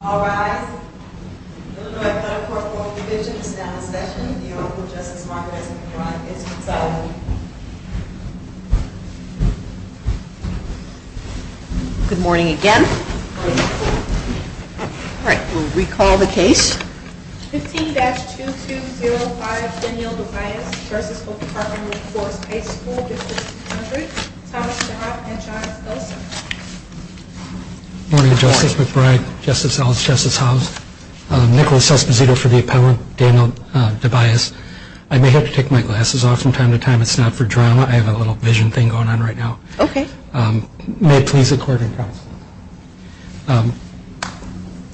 All rise. Illinois Federal Court Court of Division is now in session. The order of Justice Margaret S. McBride is resolved. Good morning again. All right, we'll recall the case. 15-2205 Danielle Dovias v. Oak Park & River Forest High School District 200 Thomas DeHoff and John Elson Good morning, Justice McBride, Justice Ellis, Justice House. Nicholas Esposito for the appellant, Danielle Dovias. I may have to take my glasses off from time to time. It's not for drama. I have a little vision thing going on right now. Okay. May it please the court and counsel.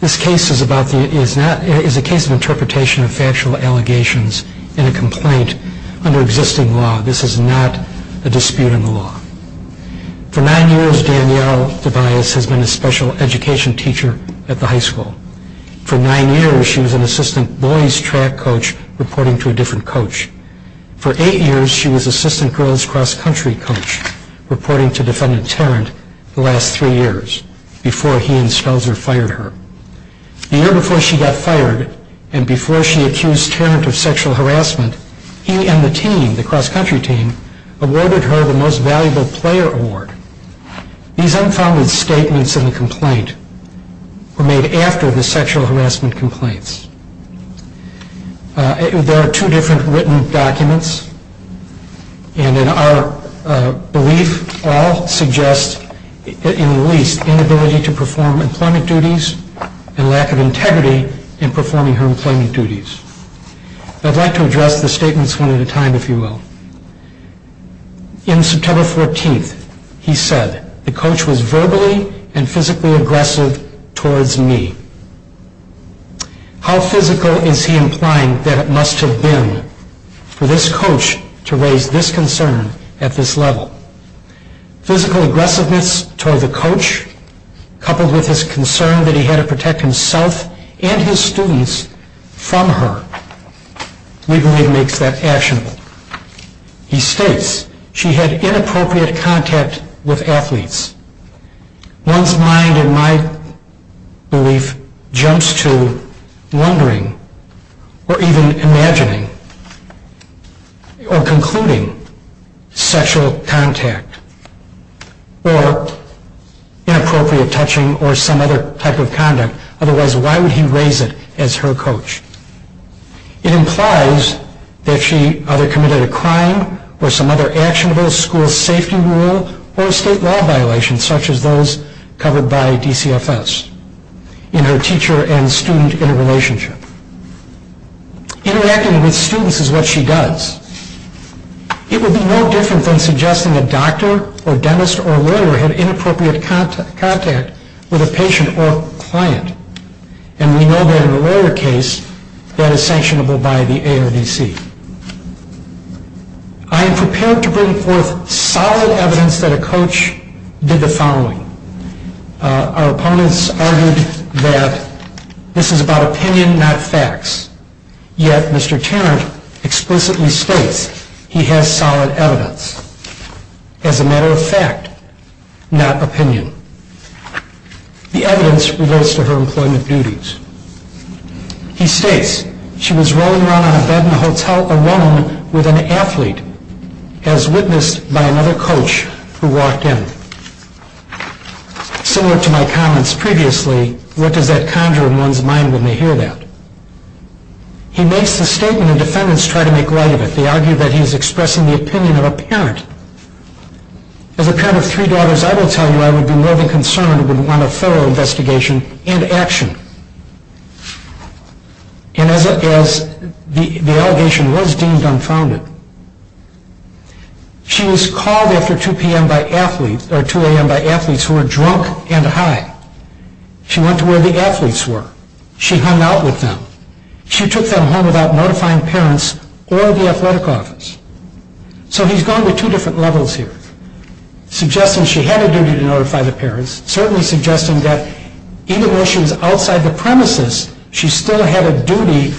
This case is a case of interpretation of factual allegations in a complaint under existing law. This is not a dispute in the law. For nine years, Danielle Dovias has been a special education teacher at the high school. For nine years, she was an assistant boys track coach reporting to a different coach. For eight years, she was assistant girls cross country coach reporting to defendant Tarrant the last three years before he and Spellzer fired her. The year before she got fired and before she accused Tarrant of sexual harassment, he and the team, the cross country team, awarded her the most valuable player award. These unfounded statements in the complaint were made after the sexual harassment complaints. There are two different written documents. And in our belief, all suggest, in the least, inability to perform employment duties and lack of integrity in performing her employment duties. I'd like to address the statements one at a time, if you will. In September 14th, he said, the coach was verbally and physically aggressive towards me. How physical is he implying that it must have been for this coach to raise this concern at this level? Physical aggressiveness toward the coach, coupled with his concern that he had to protect himself and his students from her, we believe makes that actionable. He states, she had inappropriate contact with athletes. One's mind, in my belief, jumps to wondering or even imagining or concluding sexual contact or inappropriate touching or some other type of conduct. Otherwise, why would he raise it as her coach? It implies that she either committed a crime or some other actionable school safety rule or a state law violation, such as those covered by DCFS, in her teacher and student interrelationship. Interacting with students is what she does. It would be no different than suggesting a doctor or dentist or lawyer had inappropriate contact with a patient or client. And we know that in a lawyer case, that is sanctionable by the ARDC. I am prepared to bring forth solid evidence that a coach did the following. Our opponents argued that this is about opinion, not facts. Yet, Mr. Tarrant explicitly states he has solid evidence. As a matter of fact, not opinion. The evidence relates to her employment duties. He states, she was rolling around on a bed in a hotel alone with an athlete, as witnessed by another coach who walked in. Similar to my comments previously, what does that conjure in one's mind when they hear that? He makes the statement and defendants try to make light of it. They argue that he is expressing the opinion of a parent. As a parent of three daughters, I will tell you I would be more than concerned and would want a thorough investigation and action. And as the allegation was deemed unfounded. She was called after 2 a.m. by athletes who were drunk and high. She went to where the athletes were. She hung out with them. She took them home without notifying parents or the athletic office. So he's going to two different levels here. Suggesting she had a duty to notify the parents. Certainly suggesting that even though she was outside the premises, she still had a duty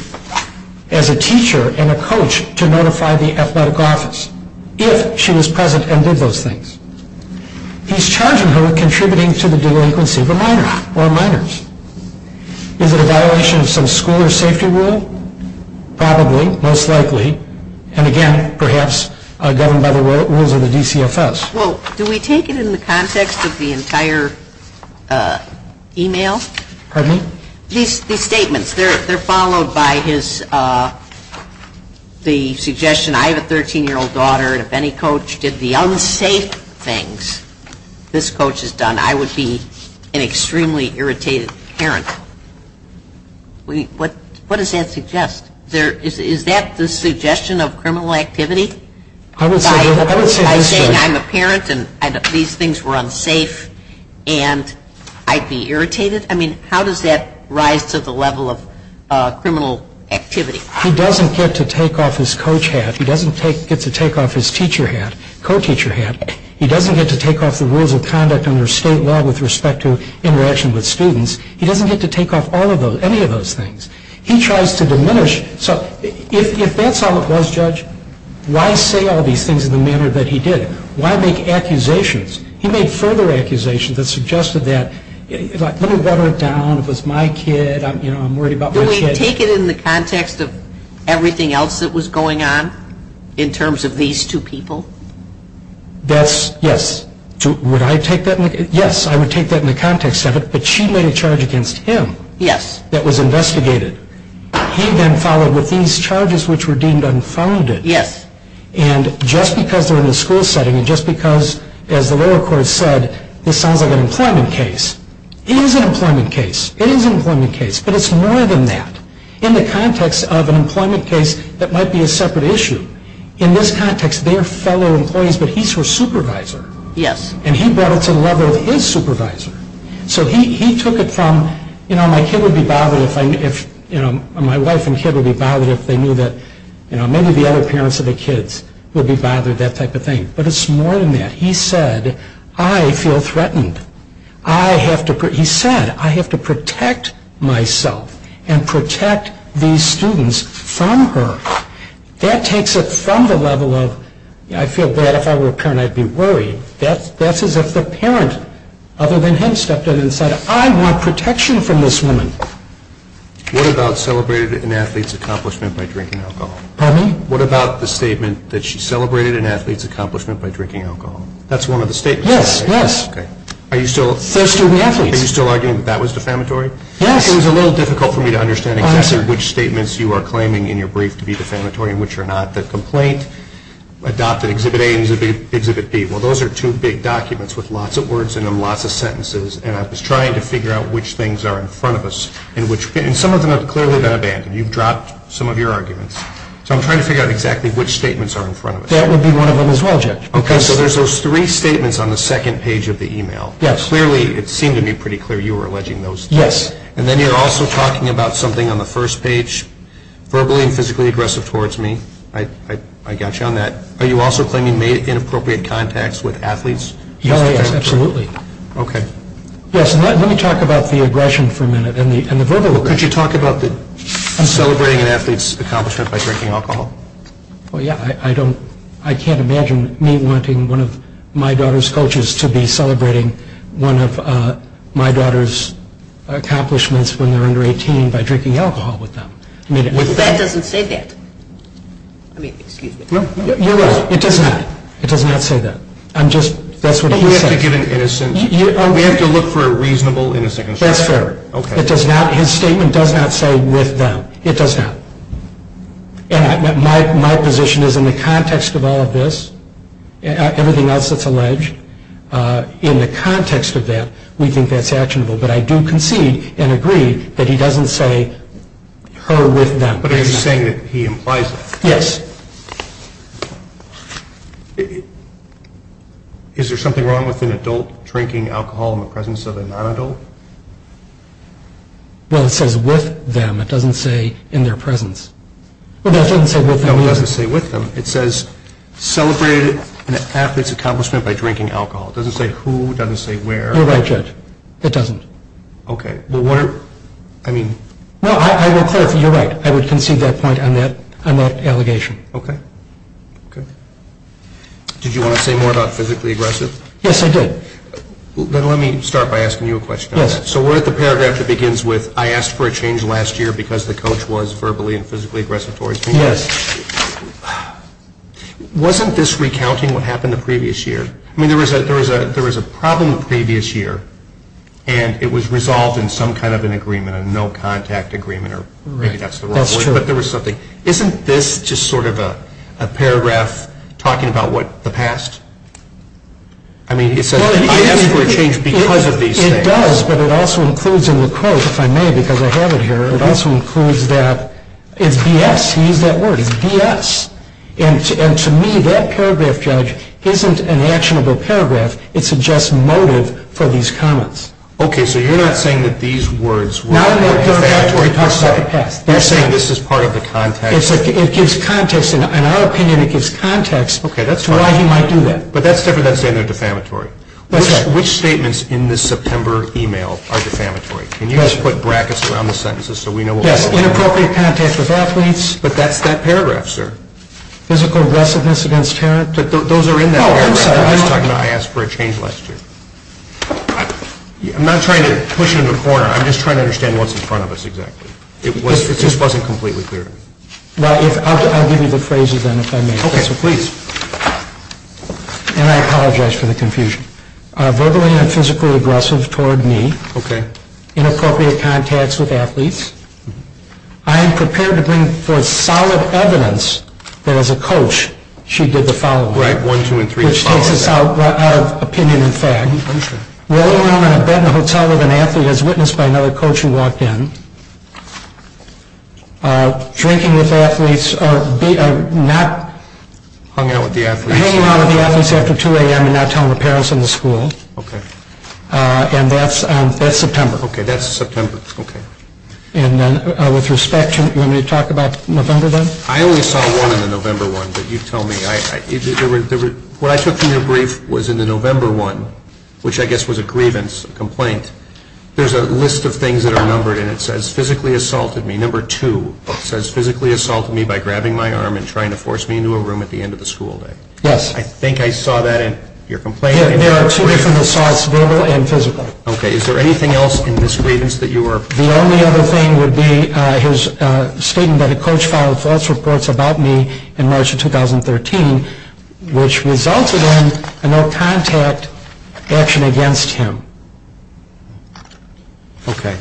as a teacher and a coach to notify the athletic office. If she was present and did those things. He's charging her with contributing to the delinquency of a minor or minors. Is it a violation of some school or safety rule? Probably, most likely. And again, perhaps governed by the rules of the DCFS. Well, do we take it in the context of the entire email? Pardon me? These statements, they're followed by his, the suggestion I have a 13-year-old daughter. If any coach did the unsafe things this coach has done, I would be an extremely irritated parent. What does that suggest? Is that the suggestion of criminal activity? I would say this to her. By saying I'm a parent and these things were unsafe and I'd be irritated? I mean, how does that rise to the level of criminal activity? He doesn't get to take off his coach hat. He doesn't get to take off his teacher hat, co-teacher hat. He doesn't get to take off the rules of conduct under state law with respect to interaction with students. He doesn't get to take off any of those things. He tries to diminish. So if that's all it was, Judge, why say all these things in the manner that he did? Why make accusations? He made further accusations that suggested that. Let me water it down. It was my kid. I'm worried about my kid. Do we take it in the context of everything else that was going on in terms of these two people? That's, yes. Would I take that? Yes, I would take that in the context of it. But she made a charge against him. Yes. That was investigated. He then followed with these charges which were deemed unfounded. Yes. And just because they're in a school setting and just because, as the lower court said, this sounds like an employment case, it is an employment case. It is an employment case, but it's more than that. In the context of an employment case that might be a separate issue, in this context, they are fellow employees, but he's her supervisor. Yes. And he brought it to the level of his supervisor. So he took it from, you know, my wife and kid would be bothered if they knew that maybe the other parents of the kids would be bothered, that type of thing, but it's more than that. He said, I feel threatened. He said, I have to protect myself and protect these students from her. That takes it from the level of, I feel bad if I were a parent, I'd be worried. That's as if the parent, other than him, stepped up and said, I want protection from this woman. What about celebrated an athlete's accomplishment by drinking alcohol? Pardon me? What about the statement that she celebrated an athlete's accomplishment by drinking alcohol? That's one of the statements. Yes, yes. Okay. Are you still arguing that that was defamatory? Yes. It was a little difficult for me to understand exactly which statements you are claiming in your brief to be defamatory and which are not. The complaint adopted Exhibit A and Exhibit B. Well, those are two big documents with lots of words in them, lots of sentences, and I was trying to figure out which things are in front of us. And some of them have clearly been abandoned. You've dropped some of your arguments. So I'm trying to figure out exactly which statements are in front of us. That would be one of them as well, Judge. Okay. So there's those three statements on the second page of the email. Yes. Clearly, it seemed to me pretty clear you were alleging those. Yes. And then you're also talking about something on the first page, verbally and physically aggressive towards me. I got you on that. Are you also claiming inappropriate contacts with athletes? Oh, yes, absolutely. Okay. Yes, let me talk about the aggression for a minute and the verbal aggression. Could you talk about celebrating an athlete's accomplishment by drinking alcohol? Well, yes. I can't imagine me wanting one of my daughter's coaches to be celebrating one of my daughter's accomplishments when they're under 18 by drinking alcohol with them. That doesn't say that. I mean, excuse me. No, you're right. It does not. It does not say that. I'm just – that's what he says. But we have to give an innocence – we have to look for a reasonable innocence. That's fair. Okay. It does not – his statement does not say with them. It does not. And my position is in the context of all of this, everything else that's alleged, in the context of that, we think that's actionable. But I do concede and agree that he doesn't say her with them. But are you saying that he implies that? Yes. Is there something wrong with an adult drinking alcohol in the presence of a non-adult? Well, it says with them. It doesn't say in their presence. Well, it doesn't say with them either. No, it doesn't say with them. It says celebrated an athlete's accomplishment by drinking alcohol. It doesn't say who. It doesn't say where. You're right, Judge. It doesn't. Okay. Well, what are – I mean – No, I will clarify. You're right. I would concede that point on that allegation. Okay. Okay. Did you want to say more about physically aggressive? Yes, I did. Then let me start by asking you a question on that. Yes. So we're at the paragraph that begins with, I asked for a change last year because the coach was verbally and physically aggressive towards me. Yes. Wasn't this recounting what happened the previous year? I mean, there was a problem the previous year, and it was resolved in some kind of an agreement, a no-contact agreement, or maybe that's the wrong word. That's true. But there was something. Isn't this just sort of a paragraph talking about what – the past? I mean, it says, I asked for a change because of these things. It does, but it also includes in the quote, if I may, because I have it here, it also includes that it's BS. He used that word. It's BS. And to me, that paragraph, Judge, isn't an actionable paragraph. It's just motive for these comments. Okay. So you're not saying that these words were defamatory. Not in that paragraph where he talks about the past. You're saying this is part of the context. It gives context. In our opinion, it gives context to why he might do that. Okay. That's fine. But that's different than saying they're defamatory. That's right. Which statements in this September email are defamatory? Can you just put brackets around the sentences so we know what those are? Yes. Inappropriate contact with athletes. But that's that paragraph, sir. Physical aggressiveness against parents. But those are in that paragraph. No, I'm sorry. I was talking about I asked for a change last year. I'm not trying to push it into a corner. I'm just trying to understand what's in front of us exactly. It just wasn't completely clear. Well, I'll give you the phrases then, if I may. Okay. Please. And I apologize for the confusion. Verbally and physically aggressive toward me. Okay. Inappropriate contacts with athletes. I am prepared to bring forth solid evidence that as a coach she did the following. Right. One, two, and three. Which takes us out of opinion and fact. Rolling around in a bed in a hotel with an athlete as witnessed by another coach who walked in. Drinking with athletes. Hanging out with the athletes. And that's September. Okay. That's September. Okay. And then with respect, you want me to talk about November then? I only saw one in the November one. But you tell me. What I took from your brief was in the November one, which I guess was a grievance, a complaint, there's a list of things that are numbered and it says physically assaulted me. Number two says physically assaulted me by grabbing my arm and trying to force me into a room at the end of the school day. Yes. I think I saw that in your complaint. There are two different assaults, verbal and physical. Okay. Is there anything else in this grievance that you were? The only other thing would be his statement that a coach filed false reports about me in March of 2013, which resulted in a no contact action against him. Okay.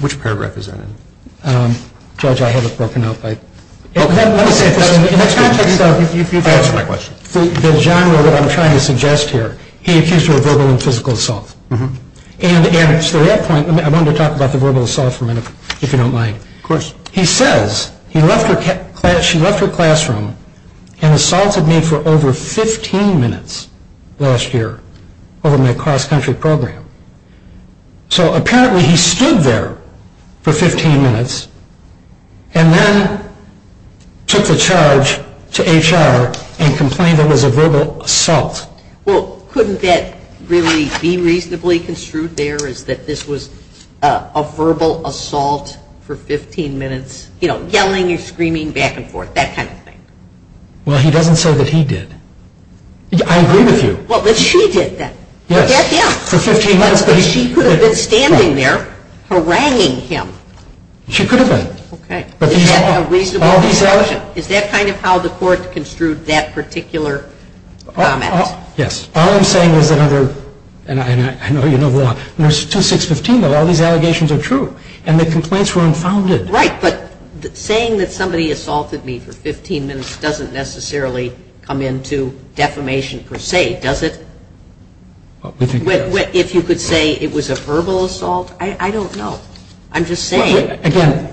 Which paragraph is that in? Judge, I have it broken up. In the context of the genre that I'm trying to suggest here, he accused her of verbal and physical assault. And to that point, I wanted to talk about the verbal assault for a minute, if you don't mind. Of course. He says she left her classroom and assaulted me for over 15 minutes last year over my cross country program. So apparently he stood there for 15 minutes and then took the charge to HR and complained it was a verbal assault. Well, couldn't that really be reasonably construed there is that this was a verbal assault for 15 minutes? You know, yelling and screaming back and forth, that kind of thing. Well, he doesn't say that he did. I agree with you. Well, but she did then. Yes, for 15 minutes. But she could have been standing there haranguing him. She could have been. Okay. Is that a reasonable assumption? All these allegations. Is that kind of how the court construed that particular comment? Yes. All I'm saying is that under, and I know you know the law, there's 2615 that all these allegations are true. And the complaints were unfounded. Right. But saying that somebody assaulted me for 15 minutes doesn't necessarily come into defamation per se, does it? If you could say it was a verbal assault? I don't know. I'm just saying. Again,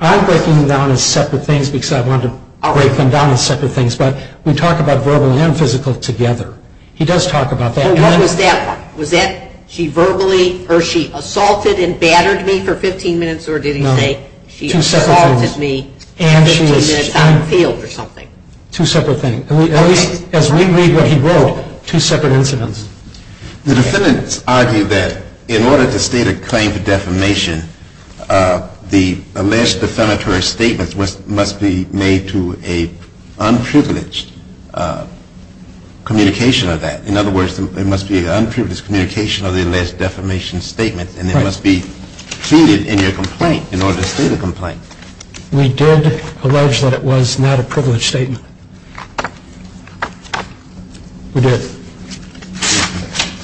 I'm breaking them down as separate things because I wanted to break them down as separate things. But we talk about verbal and physical together. He does talk about that. What was that one? Was that she verbally or she assaulted and battered me for 15 minutes or did he say she assaulted me for 15 minutes out in the field or something? Two separate things. At least as we read what he wrote, two separate incidents. The defendants argue that in order to state a claim for defamation, the alleged defamatory statement must be made to an unprivileged communication of that. In other words, it must be an unprivileged communication of the alleged defamation statement and it must be treated in your complaint in order to state a complaint. We did allege that it was not a privileged statement. We did.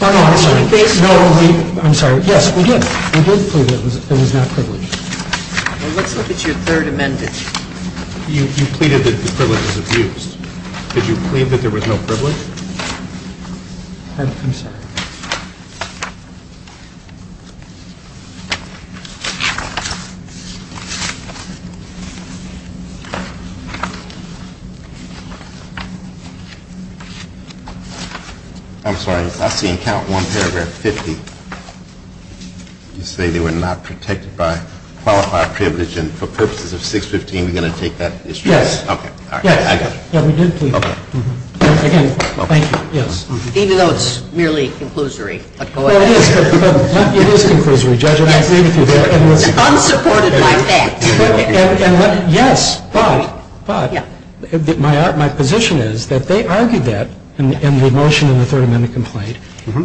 I'm sorry. I'm sorry. Yes, we did. We did plead that it was not privileged. Let's look at your third amendment. You pleaded that the privilege was abused. Did you plead that there was no privilege? I'm sorry. I'm sorry. I see in count 1 paragraph 50, you say they were not protected by qualified privilege and for purposes of 615, you're going to take that as true? Yes. Okay. Yes. I got you. Yes, we did plead that. Even though it's merely an unprovided claim? Yes. Okay. Okay. Okay. And I think that's not an unprovided conclusory. It is a conclusion, Judge. Unsupported by that. Yes, but, but, my position is that they argued that in the motion in the third amendment complaint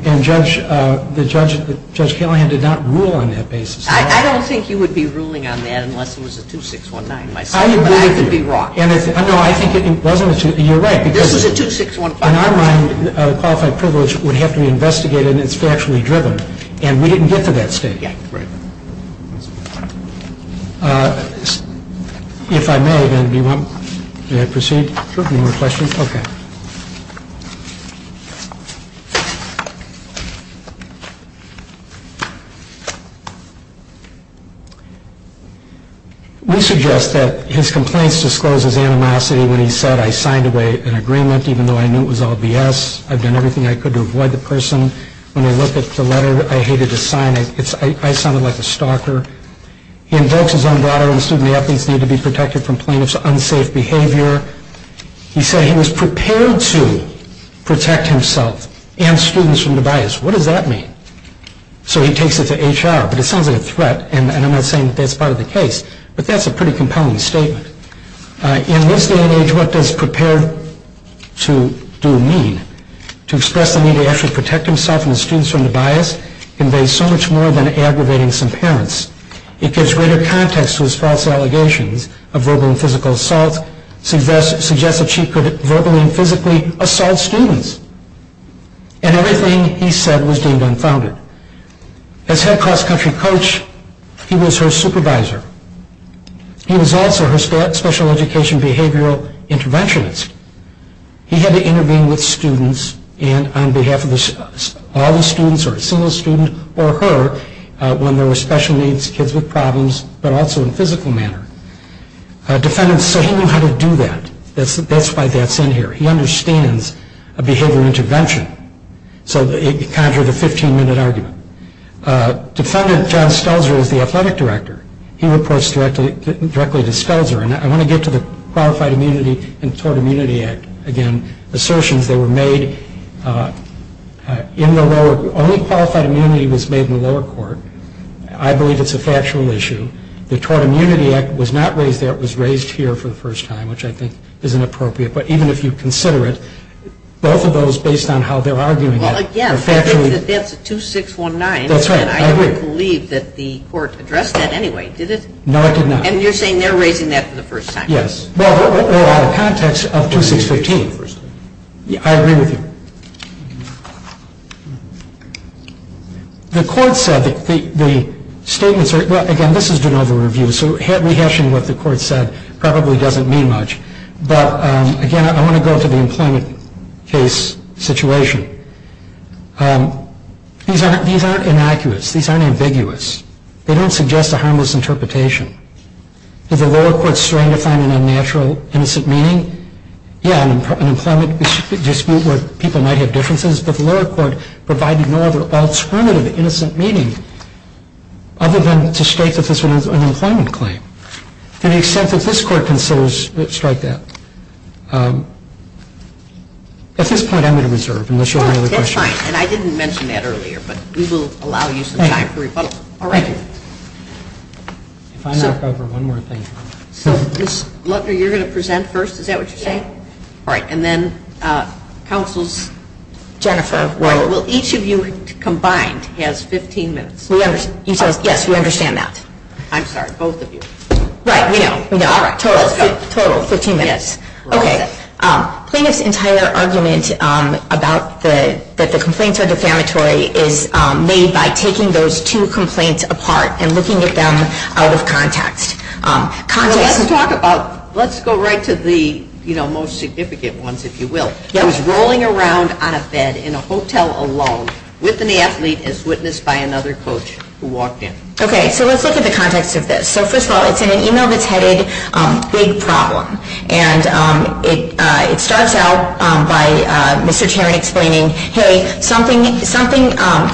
and Judge Kalihan did not rule on that basis. I don't think you would be ruling on that unless it was a 2619. I agree with you. But I could be wrong. No, I think it wasn't. You're right. This was a 2615. In our mind, qualified privilege would have to be investigated and it's factually driven. And we didn't get to that stage. Yeah. Right. If I may, then do you want me to proceed? Sure. Any more questions? Okay. We suggest that his complaints disclose his animosity when he said I signed away an agreement even though I knew it was all BS. I've done everything I could to avoid the person. When I looked at the letter, I hated to sign it. I sounded like a stalker. He invokes his own daughter and assumed the athletes needed to be protected from plaintiff's unsafe behavior. He said he was prepared to protect himself and students from the bias. What does that mean? So he takes it to HR. But it sounds like a threat and I'm not saying that's part of the case. But that's a pretty compelling statement. In this day and age, what does prepare to do mean? To express the need to actually protect himself and the students from the bias conveys so much more than aggravating some parents. It gives greater context to his false allegations of verbal and physical assault, suggests that she could verbally and physically assault students. And everything he said was deemed unfounded. As head cross country coach, he was her supervisor. He was also her special education behavioral interventionist. He had to intervene with students and on behalf of all the students or a single student or her when there were special needs kids with problems but also in a physical manner. Defendant said he knew how to do that. That's why that's in here. He understands a behavioral intervention. So it conjured a 15-minute argument. Defendant John Stelzer is the athletic director. He reports directly to Stelzer. And I want to get to the Qualified Immunity and Tort Immunity Act. Again, assertions that were made in the lower, only qualified immunity was made in the lower court. I believe it's a factual issue. The Tort Immunity Act was not raised there. It was raised here for the first time, which I think is inappropriate. But even if you consider it, both of those, based on how they're arguing it, are factually. Well, again, I think that that's a 2619. That's right. I agree. And I don't believe that the court addressed that anyway, did it? No, it did not. And you're saying they're raising that for the first time. Yes. Well, they're out of context of 2615. I agree with you. The court said that the statements are, well, again, this is de novo review, so rehashing what the court said probably doesn't mean much. But, again, I want to go to the employment case situation. These aren't inaccurate. These aren't ambiguous. They don't suggest a harmless interpretation. Did the lower court strongly find an unnatural, innocent meaning? Yeah, an employment dispute where people might have differences, but the lower court provided no other alternative, innocent meaning, other than to state that this was an employment claim. To the extent that this court considers, strike that. At this point, I'm going to reserve, unless you have any other questions. That's fine. And I didn't mention that earlier, but we will allow you some time for rebuttal. Thank you. All right. If I knock over one more thing. Ms. Luckner, you're going to present first. Is that what you're saying? All right. And then counsel's Jennifer. Will each of you combined has 15 minutes? Yes, we understand that. I'm sorry, both of you. Right. We know. All right. Total of 15 minutes. Okay. Plaintiff's entire argument that the complaints are defamatory is made by taking those two complaints apart and looking at them out of context. Let's go right to the most significant ones, if you will. He was rolling around on a bed in a hotel alone with an athlete as witnessed by another coach who walked in. Okay. So let's look at the context of this. So, first of all, it's in an email that's headed big problem. And it starts out by Mr. Tarrant explaining, hey, something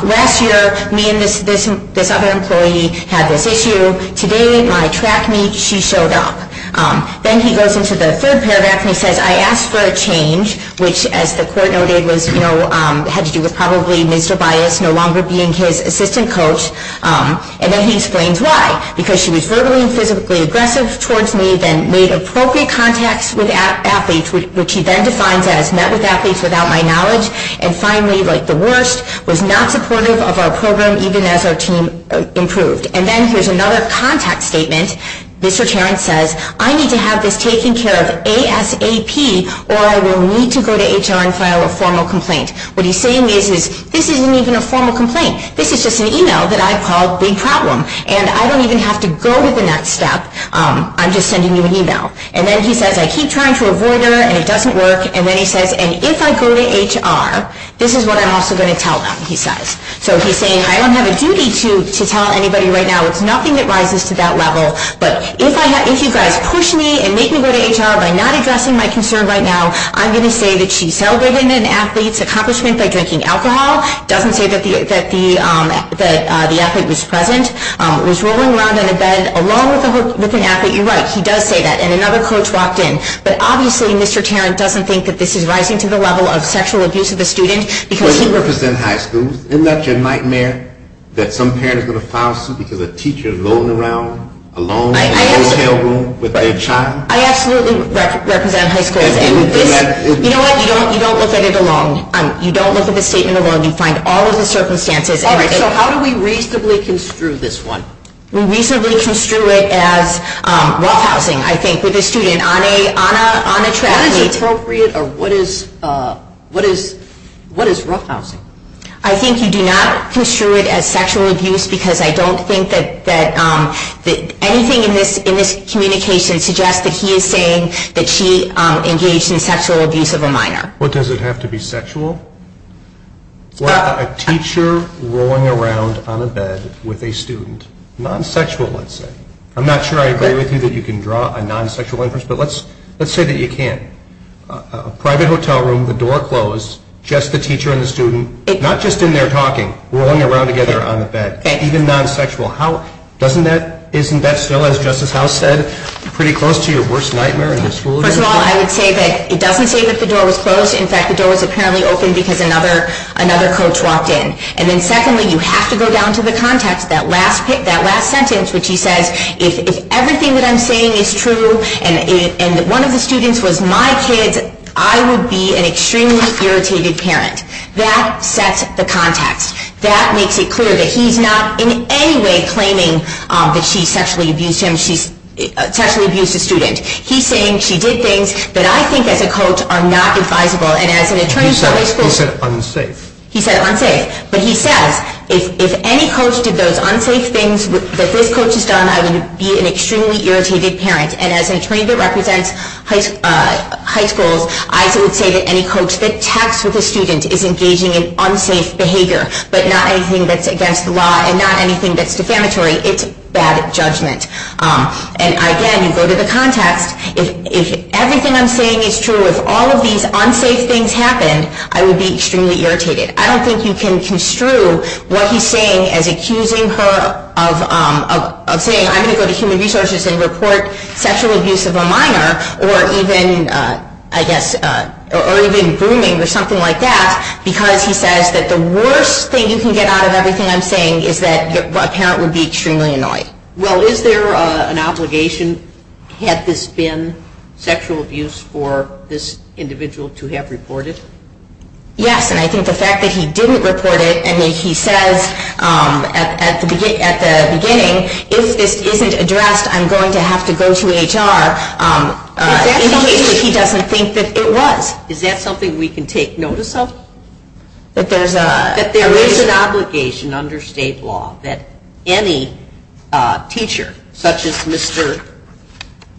last year, me and this other employee had this issue. Today at my track meet, she showed up. Then he goes into the third paragraph and he says, I asked for a change, which, as the court noted, had to do with probably Ms. Tobias no longer being his assistant coach. And then he explains why. Because she was verbally and physically aggressive towards me, then made appropriate contacts with athletes, which he then defines as met with athletes without my knowledge, and finally, like the worst, was not supportive of our program even as our team improved. And then here's another context statement. Mr. Tarrant says, I need to have this taken care of ASAP or I will need to go to HR and file a formal complaint. What he's saying is, this isn't even a formal complaint. This is just an email that I called big problem. And I don't even have to go to the next step. I'm just sending you an email. And then he says, I keep trying to avoid her and it doesn't work. And then he says, and if I go to HR, this is what I'm also going to tell them, he says. So he's saying, I don't have a duty to tell anybody right now. It's nothing that rises to that level. But if you guys push me and make me go to HR by not addressing my concern right now, I'm going to say that she celebrated an athlete's accomplishment by drinking alcohol. Doesn't say that the athlete was present. Was rolling around in a bed along with an athlete. You're right. He does say that. And another coach walked in. But obviously, Mr. Tarrant doesn't think that this is rising to the level of sexual abuse of a student. Because he represents high schools. Isn't that your nightmare? That some parent is going to file a suit because a teacher is rolling around alone in a motel room with their child? I absolutely represent high schools. You know what? You don't look at it alone. You don't look at the statement alone. You find all of the circumstances. All right. So how do we reasonably construe this one? We reasonably construe it as roughhousing, I think, with a student on a track meeting. What is appropriate or what is roughhousing? I think you do not construe it as sexual abuse because I don't think that anything in this communication suggests that he is saying that she engaged in sexual abuse of a minor. Well, does it have to be sexual? A teacher rolling around on a bed with a student. Non-sexual, let's say. I'm not sure I agree with you that you can draw a non-sexual inference, but let's say that you can. A private hotel room, the door closed, just the teacher and the student, not just in there talking, rolling around together on the bed. Even non-sexual. Isn't that still, as Justice House said, pretty close to your worst nightmare in this school? First of all, I would say that it doesn't say that the door was closed. In fact, the door was apparently open because another coach walked in. And then secondly, you have to go down to the context, that last sentence, which he says, if everything that I'm saying is true and one of the students was my kid, I would be an extremely irritated parent. That sets the context. That makes it clear that he's not in any way claiming that she sexually abused him. She sexually abused a student. He's saying she did things that I think as a coach are not advisable. He said unsafe. He said unsafe. But he says, if any coach did those unsafe things that this coach has done, I would be an extremely irritated parent. And as an attorney that represents high schools, I would say that any coach that texts with a student is engaging in unsafe behavior, but not anything that's against the law and not anything that's defamatory. It's bad judgment. And again, you go to the context. If everything I'm saying is true, if all of these unsafe things happened, I would be extremely irritated. I don't think you can construe what he's saying as accusing her of saying, I'm going to go to Human Resources and report sexual abuse of a minor or even, I guess, or even grooming or something like that, because he says that the worst thing you can get out of everything I'm saying is that a parent would be extremely annoyed. Well, is there an obligation had this been sexual abuse for this individual to have reported? Yes, and I think the fact that he didn't report it, and he says at the beginning, if this isn't addressed, I'm going to have to go to HR, indicates that he doesn't think that it was. Is that something we can take notice of? That there is an obligation under state law that any teacher such as Mr.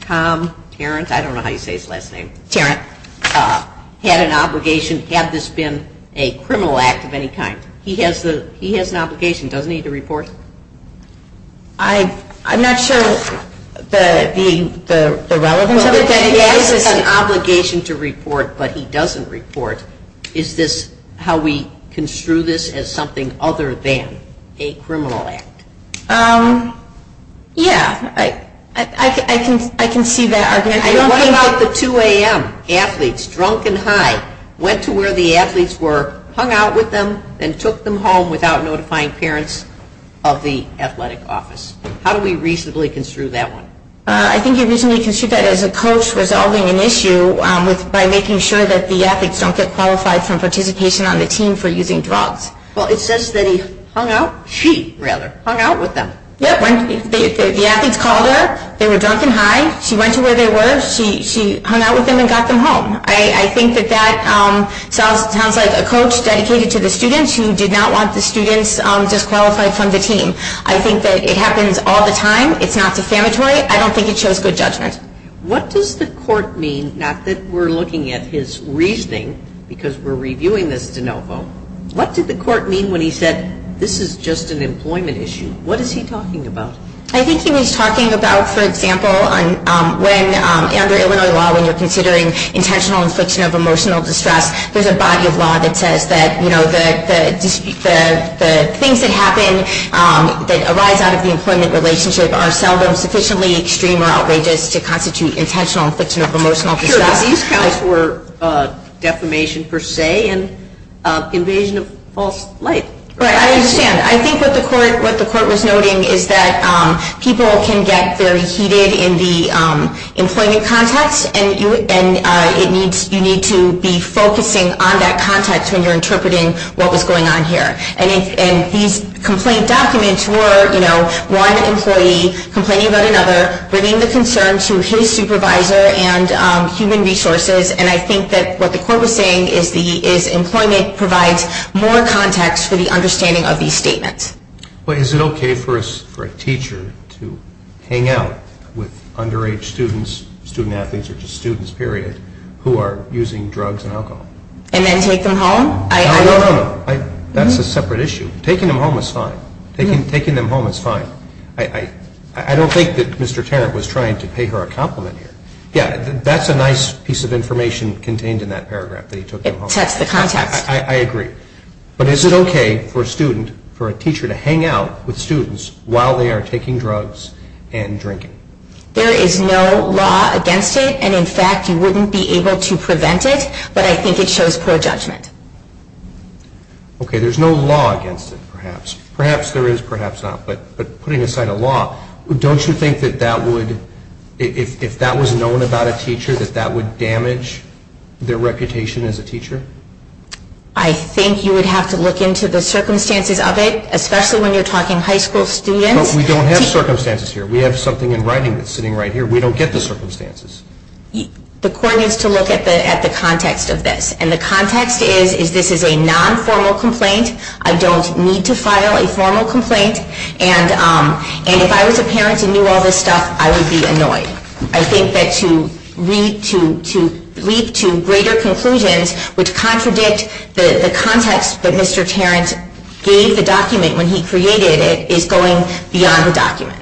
Tom Tarrant, I don't know how you say his last name. Tarrant. Had an obligation, had this been a criminal act of any kind. He has an obligation, doesn't he, to report? I'm not sure the relevance of it. He has an obligation to report, but he doesn't report. Is this how we construe this as something other than a criminal act? Yeah, I can see that argument. What about the 2 a.m. athletes, drunk and high, went to where the athletes were, hung out with them, and took them home without notifying parents of the athletic office? How do we reasonably construe that one? I think you reasonably construe that as a coach resolving an issue by making sure that the athletes don't get qualified from participation on the team for using drugs. Well, it says that he hung out, she rather, hung out with them. The athletes called her. They were drunk and high. She went to where they were. She hung out with them and got them home. I think that that sounds like a coach dedicated to the students who did not want the students disqualified from the team. I think that it happens all the time. It's not defamatory. I don't think it shows good judgment. What does the court mean, not that we're looking at his reasoning because we're reviewing this de novo. What did the court mean when he said this is just an employment issue? What is he talking about? I think he was talking about, for example, under Illinois law, when you're considering intentional infliction of emotional distress, there's a body of law that says that the things that happen that arise out of the employment relationship are seldom sufficiently extreme or outrageous to constitute intentional infliction of emotional distress. These counts were defamation per se and invasion of false light. I understand. I think what the court was noting is that people can get very heated in the employment context and you need to be focusing on that context when you're interpreting what was going on here. These complaint documents were one employee complaining about another, bringing the concern to his supervisor and human resources, and I think what the court was saying is employment provides more context for the understanding of these statements. Is it okay for a teacher to hang out with underage students, student athletes or just students, period, who are using drugs and alcohol? And then take them home? No, no, no. That's a separate issue. Taking them home is fine. Taking them home is fine. I don't think that Mr. Tarrant was trying to pay her a compliment here. Yeah, that's a nice piece of information contained in that paragraph, that he took them home. It sets the context. I agree. But is it okay for a student, for a teacher to hang out with students while they are taking drugs and drinking? There is no law against it and, in fact, you wouldn't be able to prevent it, but I think it shows pro-judgment. Okay, there's no law against it, perhaps. Perhaps there is, perhaps not. But putting aside a law, don't you think that that would, if that was known about a teacher, that that would damage their reputation as a teacher? I think you would have to look into the circumstances of it, especially when you're talking high school students. But we don't have circumstances here. We have something in writing that's sitting right here. We don't get the circumstances. The court needs to look at the context of this, and the context is this is a non-formal complaint. I don't need to file a formal complaint, and if I was a parent and knew all this stuff, I would be annoyed. I think that to lead to greater conclusions which contradict the context that Mr. Tarrant gave the document when he created it is going beyond the document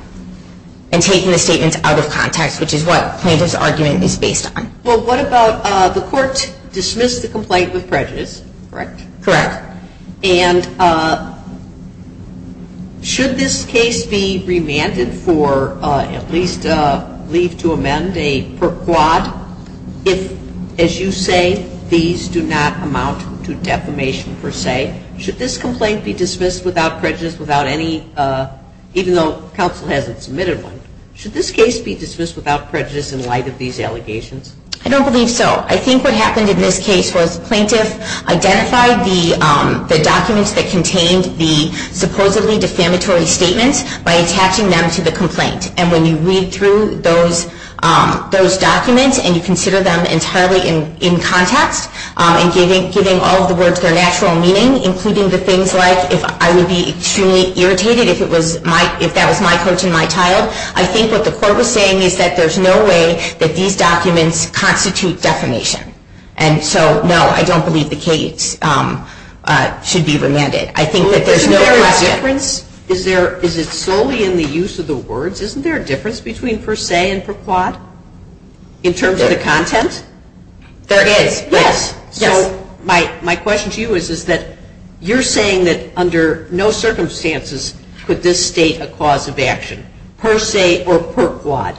and taking the statements out of context, which is what plaintiff's argument is based on. Well, what about the court dismissed the complaint with prejudice, correct? Correct. And should this case be remanded for at least leave to amend a per-quad if, as you say, these do not amount to defamation per se? Should this complaint be dismissed without prejudice, even though counsel hasn't submitted one? Should this case be dismissed without prejudice in light of these allegations? I don't believe so. I think what happened in this case was plaintiff identified the documents that contained the supposedly defamatory statements by attaching them to the complaint. And when you read through those documents and you consider them entirely in context and giving all of the words their natural meaning, including the things like if I would be extremely irritated if that was my coach and my child, I think what the court was saying is that there's no way that these documents constitute defamation. And so, no, I don't believe the case should be remanded. I think that there's no question. Well, isn't there a difference? Is it solely in the use of the words? Isn't there a difference between per se and per-quad in terms of the content? There is. Yes. My question to you is that you're saying that under no circumstances could this state a cause of action, per se or per-quad.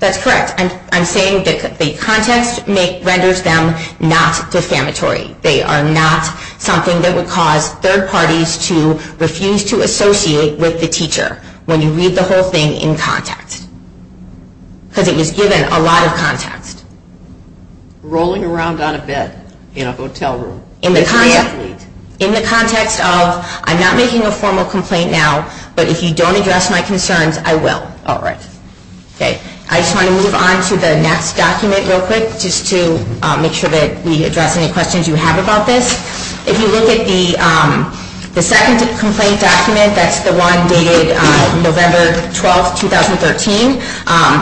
That's correct. I'm saying that the context renders them not defamatory. They are not something that would cause third parties to refuse to associate with the teacher when you read the whole thing in context because it was given a lot of context. Rolling around on a bed in a hotel room. In the context of I'm not making a formal complaint now, but if you don't address my concerns, I will. All right. Okay. I just want to move on to the next document real quick just to make sure that we address any questions you have about this. If you look at the second complaint document, that's the one dated November 12, 2013,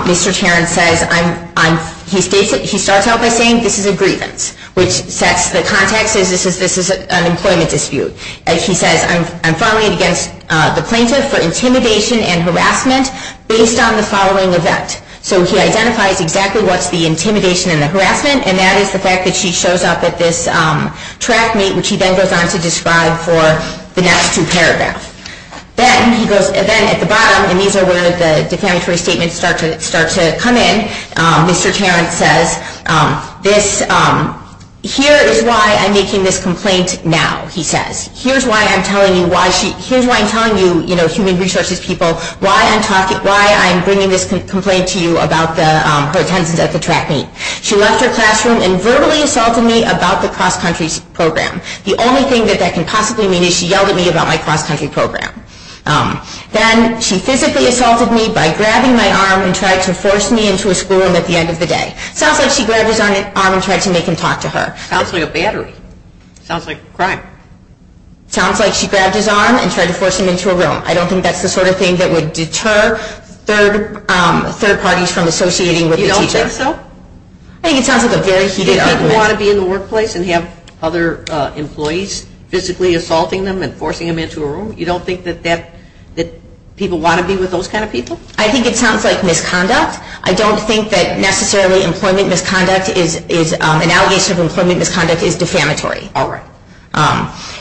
Mr. Tarrant says he starts out by saying this is a grievance, which sets the context as this is an employment dispute. He says I'm filing against the plaintiff for intimidation and harassment based on the following event. So he identifies exactly what's the intimidation and the harassment, and that is the fact that she shows up at this track meet, which he then goes on to describe for the next two paragraphs. Then at the bottom, and these are where the defamatory statements start to come in, Mr. Tarrant says here is why I'm making this complaint now, he says. Here's why I'm telling you, human resources people, why I'm bringing this complaint to you about her attendance at the track meet. She left her classroom and verbally assaulted me about the cross-country program. The only thing that that can possibly mean is she yelled at me about my cross-country program. Then she physically assaulted me by grabbing my arm and tried to force me into a school room at the end of the day. Sounds like she grabbed his arm and tried to make him talk to her. Sounds like a battery. Sounds like a crime. Sounds like she grabbed his arm and tried to force him into a room. I don't think that's the sort of thing that would deter third parties from associating with the teacher. You don't think so? I think it sounds like a very heated argument. You don't want to be in the workplace and have other employees physically assaulting them and forcing them into a room? You don't think that people want to be with those kind of people? I think it sounds like misconduct. I don't think that necessarily employment misconduct is, an allegation of employment misconduct is defamatory. All right.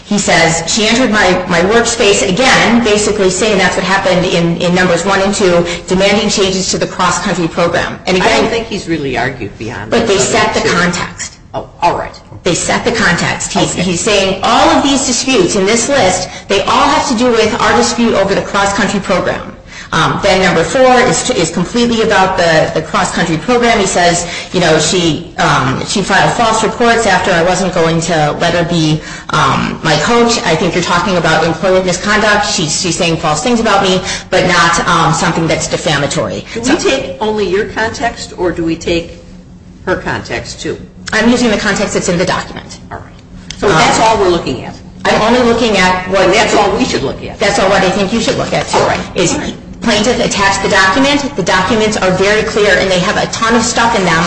He says she entered my workspace again, basically saying that's what happened in numbers one and two, I don't think he's really argued beyond that. But they set the context. All right. They set the context. He's saying all of these disputes in this list, they all have to do with our dispute over the cross-country program. Then number four is completely about the cross-country program. He says she filed false reports after I wasn't going to let her be my coach. I think you're talking about employment misconduct. She's saying false things about me, but not something that's defamatory. Do we take only your context, or do we take her context, too? I'm using the context that's in the document. All right. So that's all we're looking at. I'm only looking at what- That's all we should look at. That's all I think you should look at, too. All right. Plaintiff attacks the document, the documents are very clear, and they have a ton of stuff in them,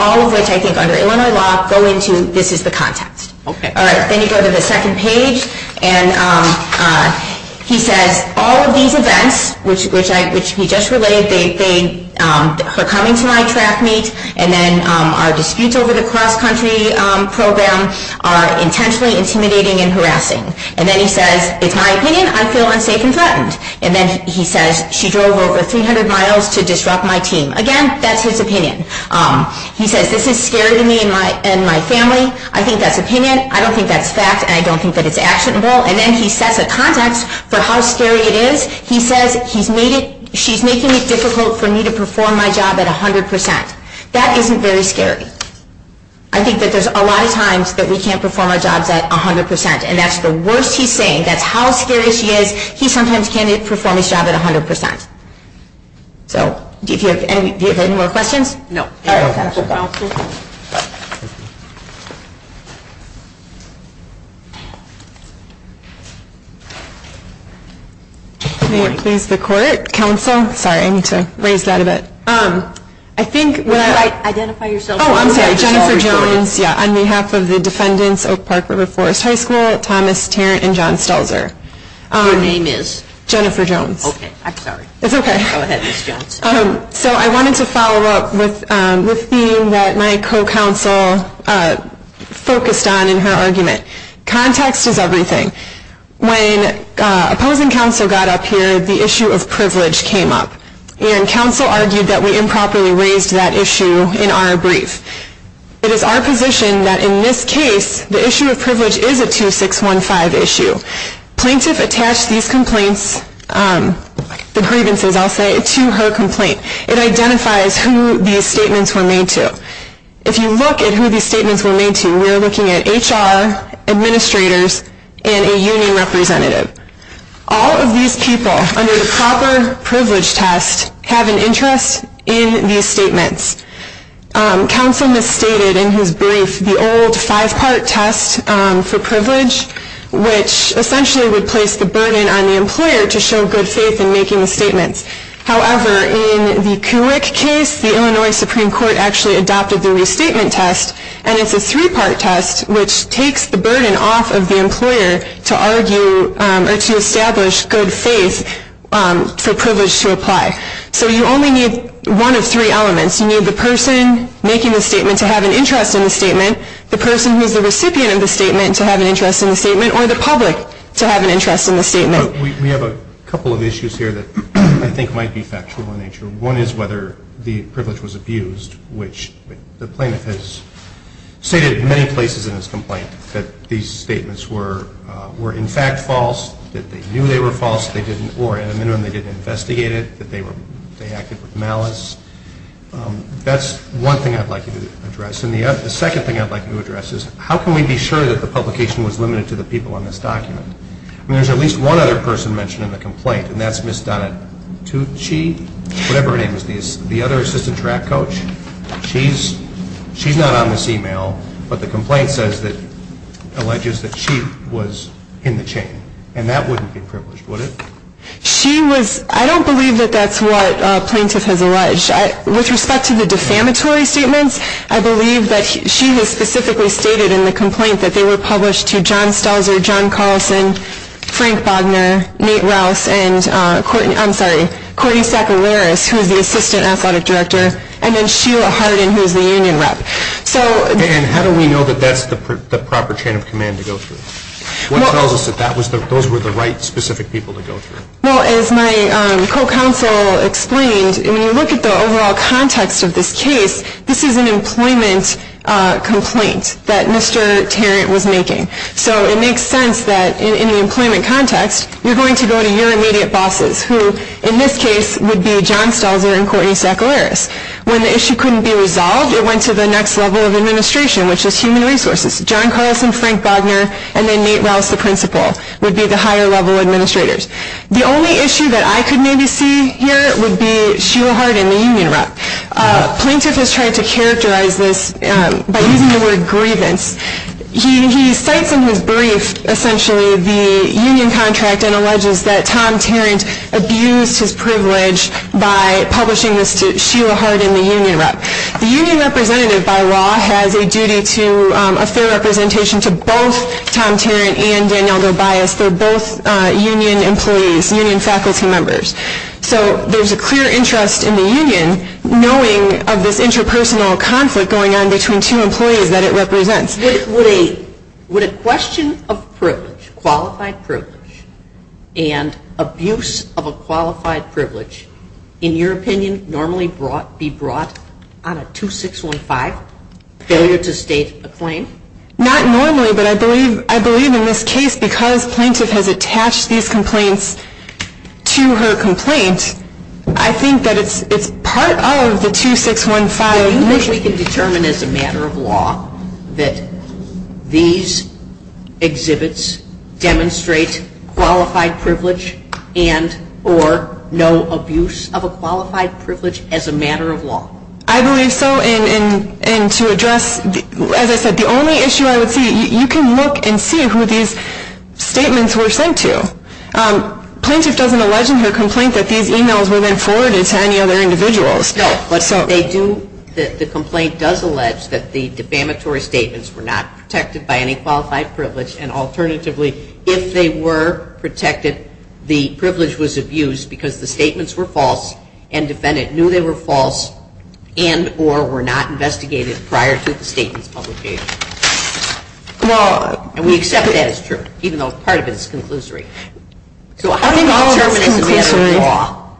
all of which I think under Illinois law go into this is the context. Okay. All right. Then you go to the second page, and he says all of these events, which he just related, are coming to my track meet, and then our disputes over the cross-country program are intentionally intimidating and harassing. And then he says it's my opinion, I feel unsafe and threatened. And then he says she drove over 300 miles to disrupt my team. Again, that's his opinion. He says this is scary to me and my family. I think that's opinion. I don't think that's fact, and I don't think that it's actionable. And then he sets a context for how scary it is. He says she's making it difficult for me to perform my job at 100%. That isn't very scary. I think that there's a lot of times that we can't perform our jobs at 100%, and that's the worst he's saying. That's how scary she is. He sometimes can't perform his job at 100%. So do you have any more questions? No. All right, Council. May it please the Court, Council. Sorry, I need to raise that a bit. I think when I – Would you like to identify yourself? Oh, I'm sorry. Jennifer Jones, yeah, on behalf of the defendants, Oak Park River Forest High School, Thomas Tarrant, and John Stelzer. Your name is? Jennifer Jones. Okay, I'm sorry. It's okay. Go ahead, Ms. Jones. So I wanted to follow up with the theme that my co-counsel focused on in her argument. Context is everything. When opposing counsel got up here, the issue of privilege came up. And counsel argued that we improperly raised that issue in our brief. It is our position that in this case, the issue of privilege is a 2615 issue. Plaintiff attached these complaints, the grievances, I'll say, to her complaint. It identifies who these statements were made to. If you look at who these statements were made to, we're looking at HR, administrators, and a union representative. All of these people under the proper privilege test have an interest in these statements. Counsel misstated in his brief the old five-part test for privilege, which essentially would place the burden on the employer to show good faith in making the statements. However, in the Kuwik case, the Illinois Supreme Court actually adopted the restatement test, and it's a three-part test which takes the burden off of the employer to argue or to establish good faith for privilege to apply. So you only need one of three elements. You need the person making the statement to have an interest in the statement, the person who is the recipient of the statement to have an interest in the statement, or the public to have an interest in the statement. We have a couple of issues here that I think might be factual in nature. One is whether the privilege was abused, which the plaintiff has stated in many places in his complaint that these statements were in fact false, that they knew they were false, or at a minimum they didn't investigate it, that they acted with malice. That's one thing I'd like you to address. And the second thing I'd like you to address is how can we be sure that the publication was limited to the people in this document? I mean, there's at least one other person mentioned in the complaint, and that's Ms. Donna Tucci, whatever her name is, the other assistant track coach. She's not on this email, but the complaint alleges that she was in the chain, and that wouldn't be privileged, would it? I don't believe that that's what a plaintiff has alleged. With respect to the defamatory statements, I believe that she has specifically stated in the complaint that they were published to John Stelzer, John Carlson, Frank Bogner, Nate Rouse, and Courtney Saccararis, who is the assistant athletic director, and then Sheila Harden, who is the union rep. And how do we know that that's the proper chain of command to go through? What tells us that those were the right specific people to go through? Well, as my co-counsel explained, when you look at the overall context of this case, this is an employment complaint that Mr. Tarrant was making. So it makes sense that in the employment context, you're going to go to your immediate bosses, who in this case would be John Stelzer and Courtney Saccararis. When the issue couldn't be resolved, it went to the next level of administration, which is human resources. John Carlson, Frank Bogner, and then Nate Rouse, the principal, would be the higher level administrators. The only issue that I could maybe see here would be Sheila Harden, the union rep. A plaintiff has tried to characterize this by using the word grievance. He cites in his brief, essentially, the union contract and alleges that Tom Tarrant abused his privilege by publishing this to Sheila Harden, the union rep. The union rep. by law has a duty to a fair representation to both Tom Tarrant and Danielle Tobias. They're both union employees, union faculty members. So there's a clear interest in the union, knowing of this interpersonal conflict going on between two employees that it represents. Would a question of privilege, qualified privilege, and abuse of a qualified privilege, in your opinion, normally be brought on a 2615 failure to state a claim? Not normally, but I believe in this case, because plaintiff has attached these complaints to her complaint, I think that it's part of the 2615. So you think we can determine as a matter of law that these exhibits demonstrate qualified privilege and or no abuse of a qualified privilege as a matter of law? I believe so. And to address, as I said, the only issue I would see, you can look and see who these statements were sent to. Plaintiff doesn't allege in her complaint that these emails were then forwarded to any other individuals. No, but they do, the complaint does allege that the defamatory statements were not protected by any qualified privilege and alternatively, if they were protected, the privilege was abused because the statements were false and defendant knew they were false and or were not investigated prior to the statement's publication. And we accept that as true, even though part of it is conclusory. So how do you determine as a matter of law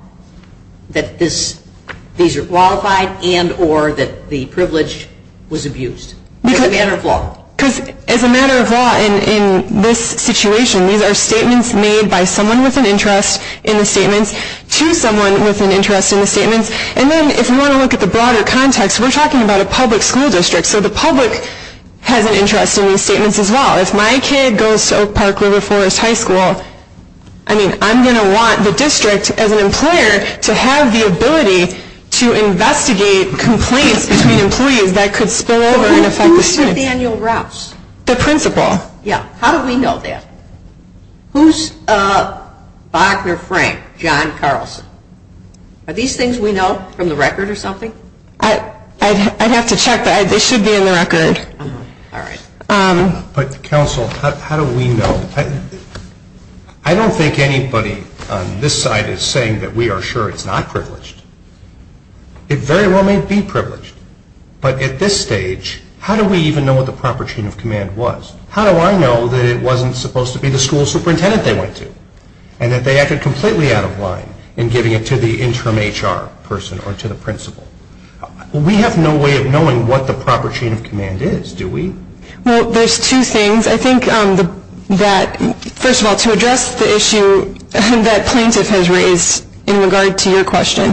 that these are qualified and or that the privilege was abused as a matter of law? Because as a matter of law in this situation, these are statements made by someone with an interest in the statements to someone with an interest in the statements. And then if you want to look at the broader context, we're talking about a public school district, so the public has an interest in these statements as well. If my kid goes to Oak Park-Liver Forest High School, I mean, I'm going to want the district as an employer to have the ability to investigate complaints between employees that could spill over and affect the students. Who's Nathaniel Rouse? The principal. Yeah, how do we know that? Who's Bogner Frank, John Carlson? Are these things we know from the record or something? I'd have to check, but they should be in the record. All right. But, counsel, how do we know? I don't think anybody on this side is saying that we are sure it's not privileged. It very well may be privileged, but at this stage, how do we even know what the proper chain of command was? How do I know that it wasn't supposed to be the school superintendent they went to and that they acted completely out of line in giving it to the interim HR person or to the principal? We have no way of knowing what the proper chain of command is, do we? Well, there's two things. I think that, first of all, to address the issue that plaintiff has raised in regard to your question,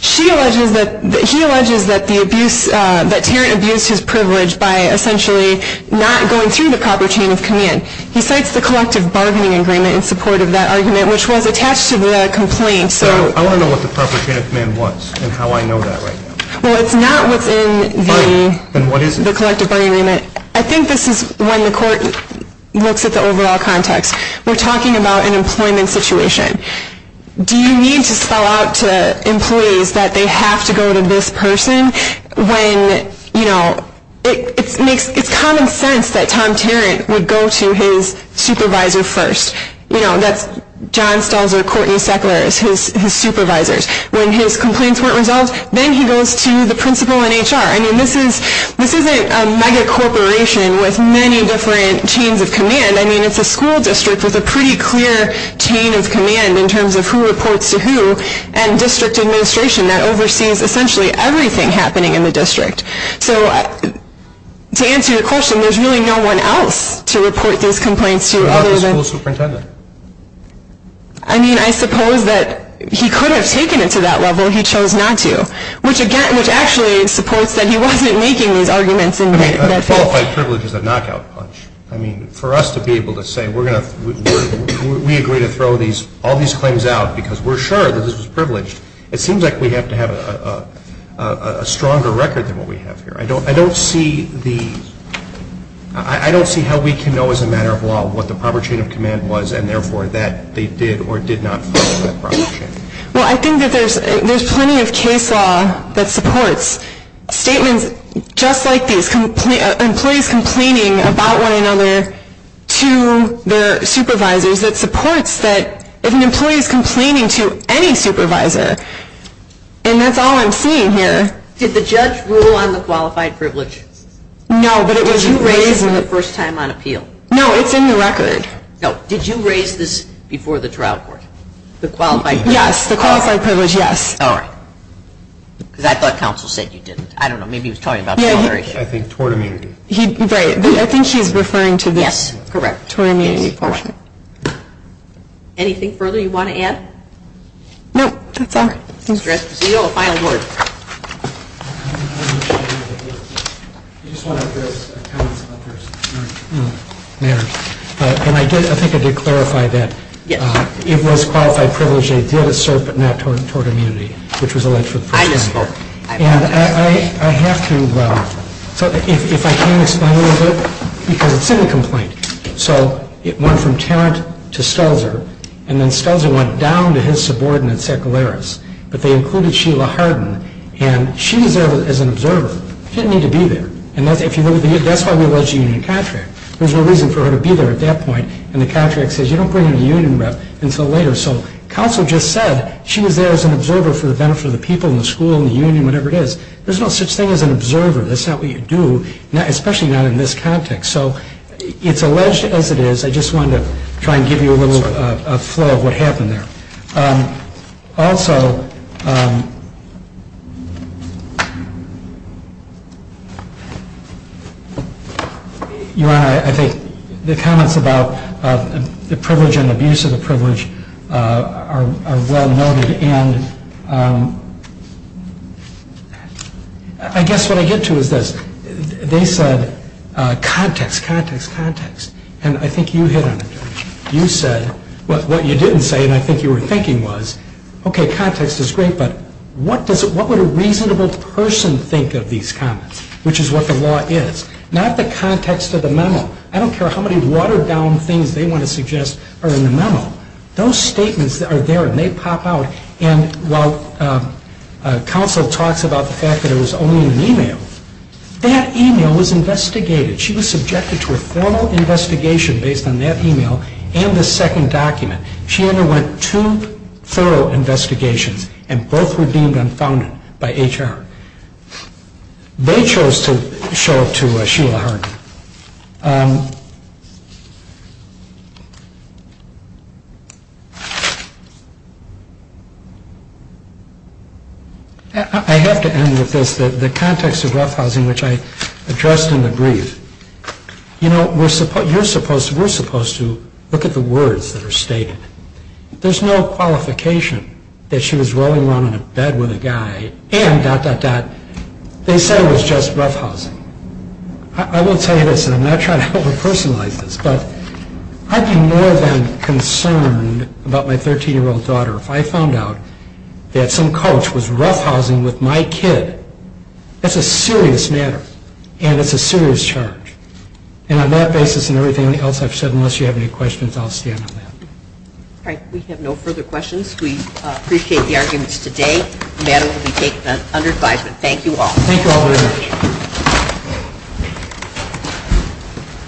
he alleges that Tarrant abused his privilege by essentially not going through the proper chain of command. He cites the collective bargaining agreement in support of that argument, which was attached to the complaint. I want to know what the proper chain of command was and how I know that right now. Well, it's not within the collective bargaining agreement. I think this is when the court looks at the overall context. We're talking about an employment situation. Do you need to spell out to employees that they have to go to this person when, you know, it's common sense that Tom Tarrant would go to his supervisor first. You know, that's John Stelzer, Courtney Seckler, his supervisors. When his complaints weren't resolved, then he goes to the principal and HR. I mean, this isn't a megacorporation with many different chains of command. I mean, it's a school district with a pretty clear chain of command in terms of who reports to who and district administration that oversees essentially everything happening in the district. So to answer your question, there's really no one else to report these complaints to other than the school superintendent. I mean, I suppose that he could have taken it to that level. He chose not to, which actually supports that he wasn't making these arguments. I mean, qualified privilege is a knockout punch. I mean, for us to be able to say we agree to throw all these claims out because we're sure that this was privileged, it seems like we have to have a stronger record than what we have here. I don't see how we can know as a matter of law what the proper chain of command was and therefore that they did or did not follow that proper chain. Well, I think that there's plenty of case law that supports statements just like these, employees complaining about one another to their supervisors, that supports that if an employee is complaining to any supervisor, and that's all I'm seeing here. Did the judge rule on the qualified privilege? No, but it was raised for the first time on appeal. No, it's in the record. No. Did you raise this before the trial court, the qualified privilege? Yes, the qualified privilege, yes. All right. Because I thought counsel said you didn't. I don't know. Maybe he was talking about the other issue. I think tort immunity. Right. I think she's referring to this. Yes, correct. Tort immunity portion. Anything further you want to add? No, that's all. All right. Mr. Esposito, a final word. I just want to add this. I think I did clarify that it was qualified privilege they did assert, but not tort immunity, which was alleged for the first time. I just spoke. I have to. If I can explain a little bit, because it's in the complaint. So it went from Tarrant to Stelzer, and then Stelzer went down to his subordinate, Secularis, but they included Sheila Harden. And she was there as an observer. She didn't need to be there. And that's why we alleged a union contract. There's no reason for her to be there at that point. And the contract says you don't bring in a union rep until later. So counsel just said she was there as an observer for the benefit of the people and the school and the union, whatever it is. There's no such thing as an observer. That's not what you do, especially not in this context. So it's alleged as it is. I just wanted to try and give you a little flow of what happened there. Also, Your Honor, I think the comments about the privilege and abuse of the privilege are well noted. And I guess what I get to is this. They said, context, context, context. And I think you hit on it. You said what you didn't say, and I think you were thinking was, okay, context is great, but what would a reasonable person think of these comments, which is what the law is. Not the context of the memo. I don't care how many watered-down things they want to suggest are in the memo. Those statements are there, and they pop out. And while counsel talks about the fact that it was only an email, that email was investigated. She was subjected to a formal investigation based on that email and the second document. She underwent two thorough investigations, and both were deemed unfounded by HR. They chose to show it to Sheila Harden. I have to end with this. The context of roughhousing, which I addressed in the brief. You know, we're supposed to look at the words that are stated. There's no qualification that she was rolling around in a bed with a guy and dot, dot, dot. They said it was just roughhousing. I will tell you this, and I'm not trying to over-personalize this, but I'd be more than concerned about my 13-year-old daughter if I found out that some coach was roughhousing with my kid. That's a serious matter, and it's a serious charge. And on that basis and everything else I've said, unless you have any questions, I'll stand on that. All right. We have no further questions. We appreciate the arguments today. The matter will be taken under advisement. Thank you all. Thank you all very much.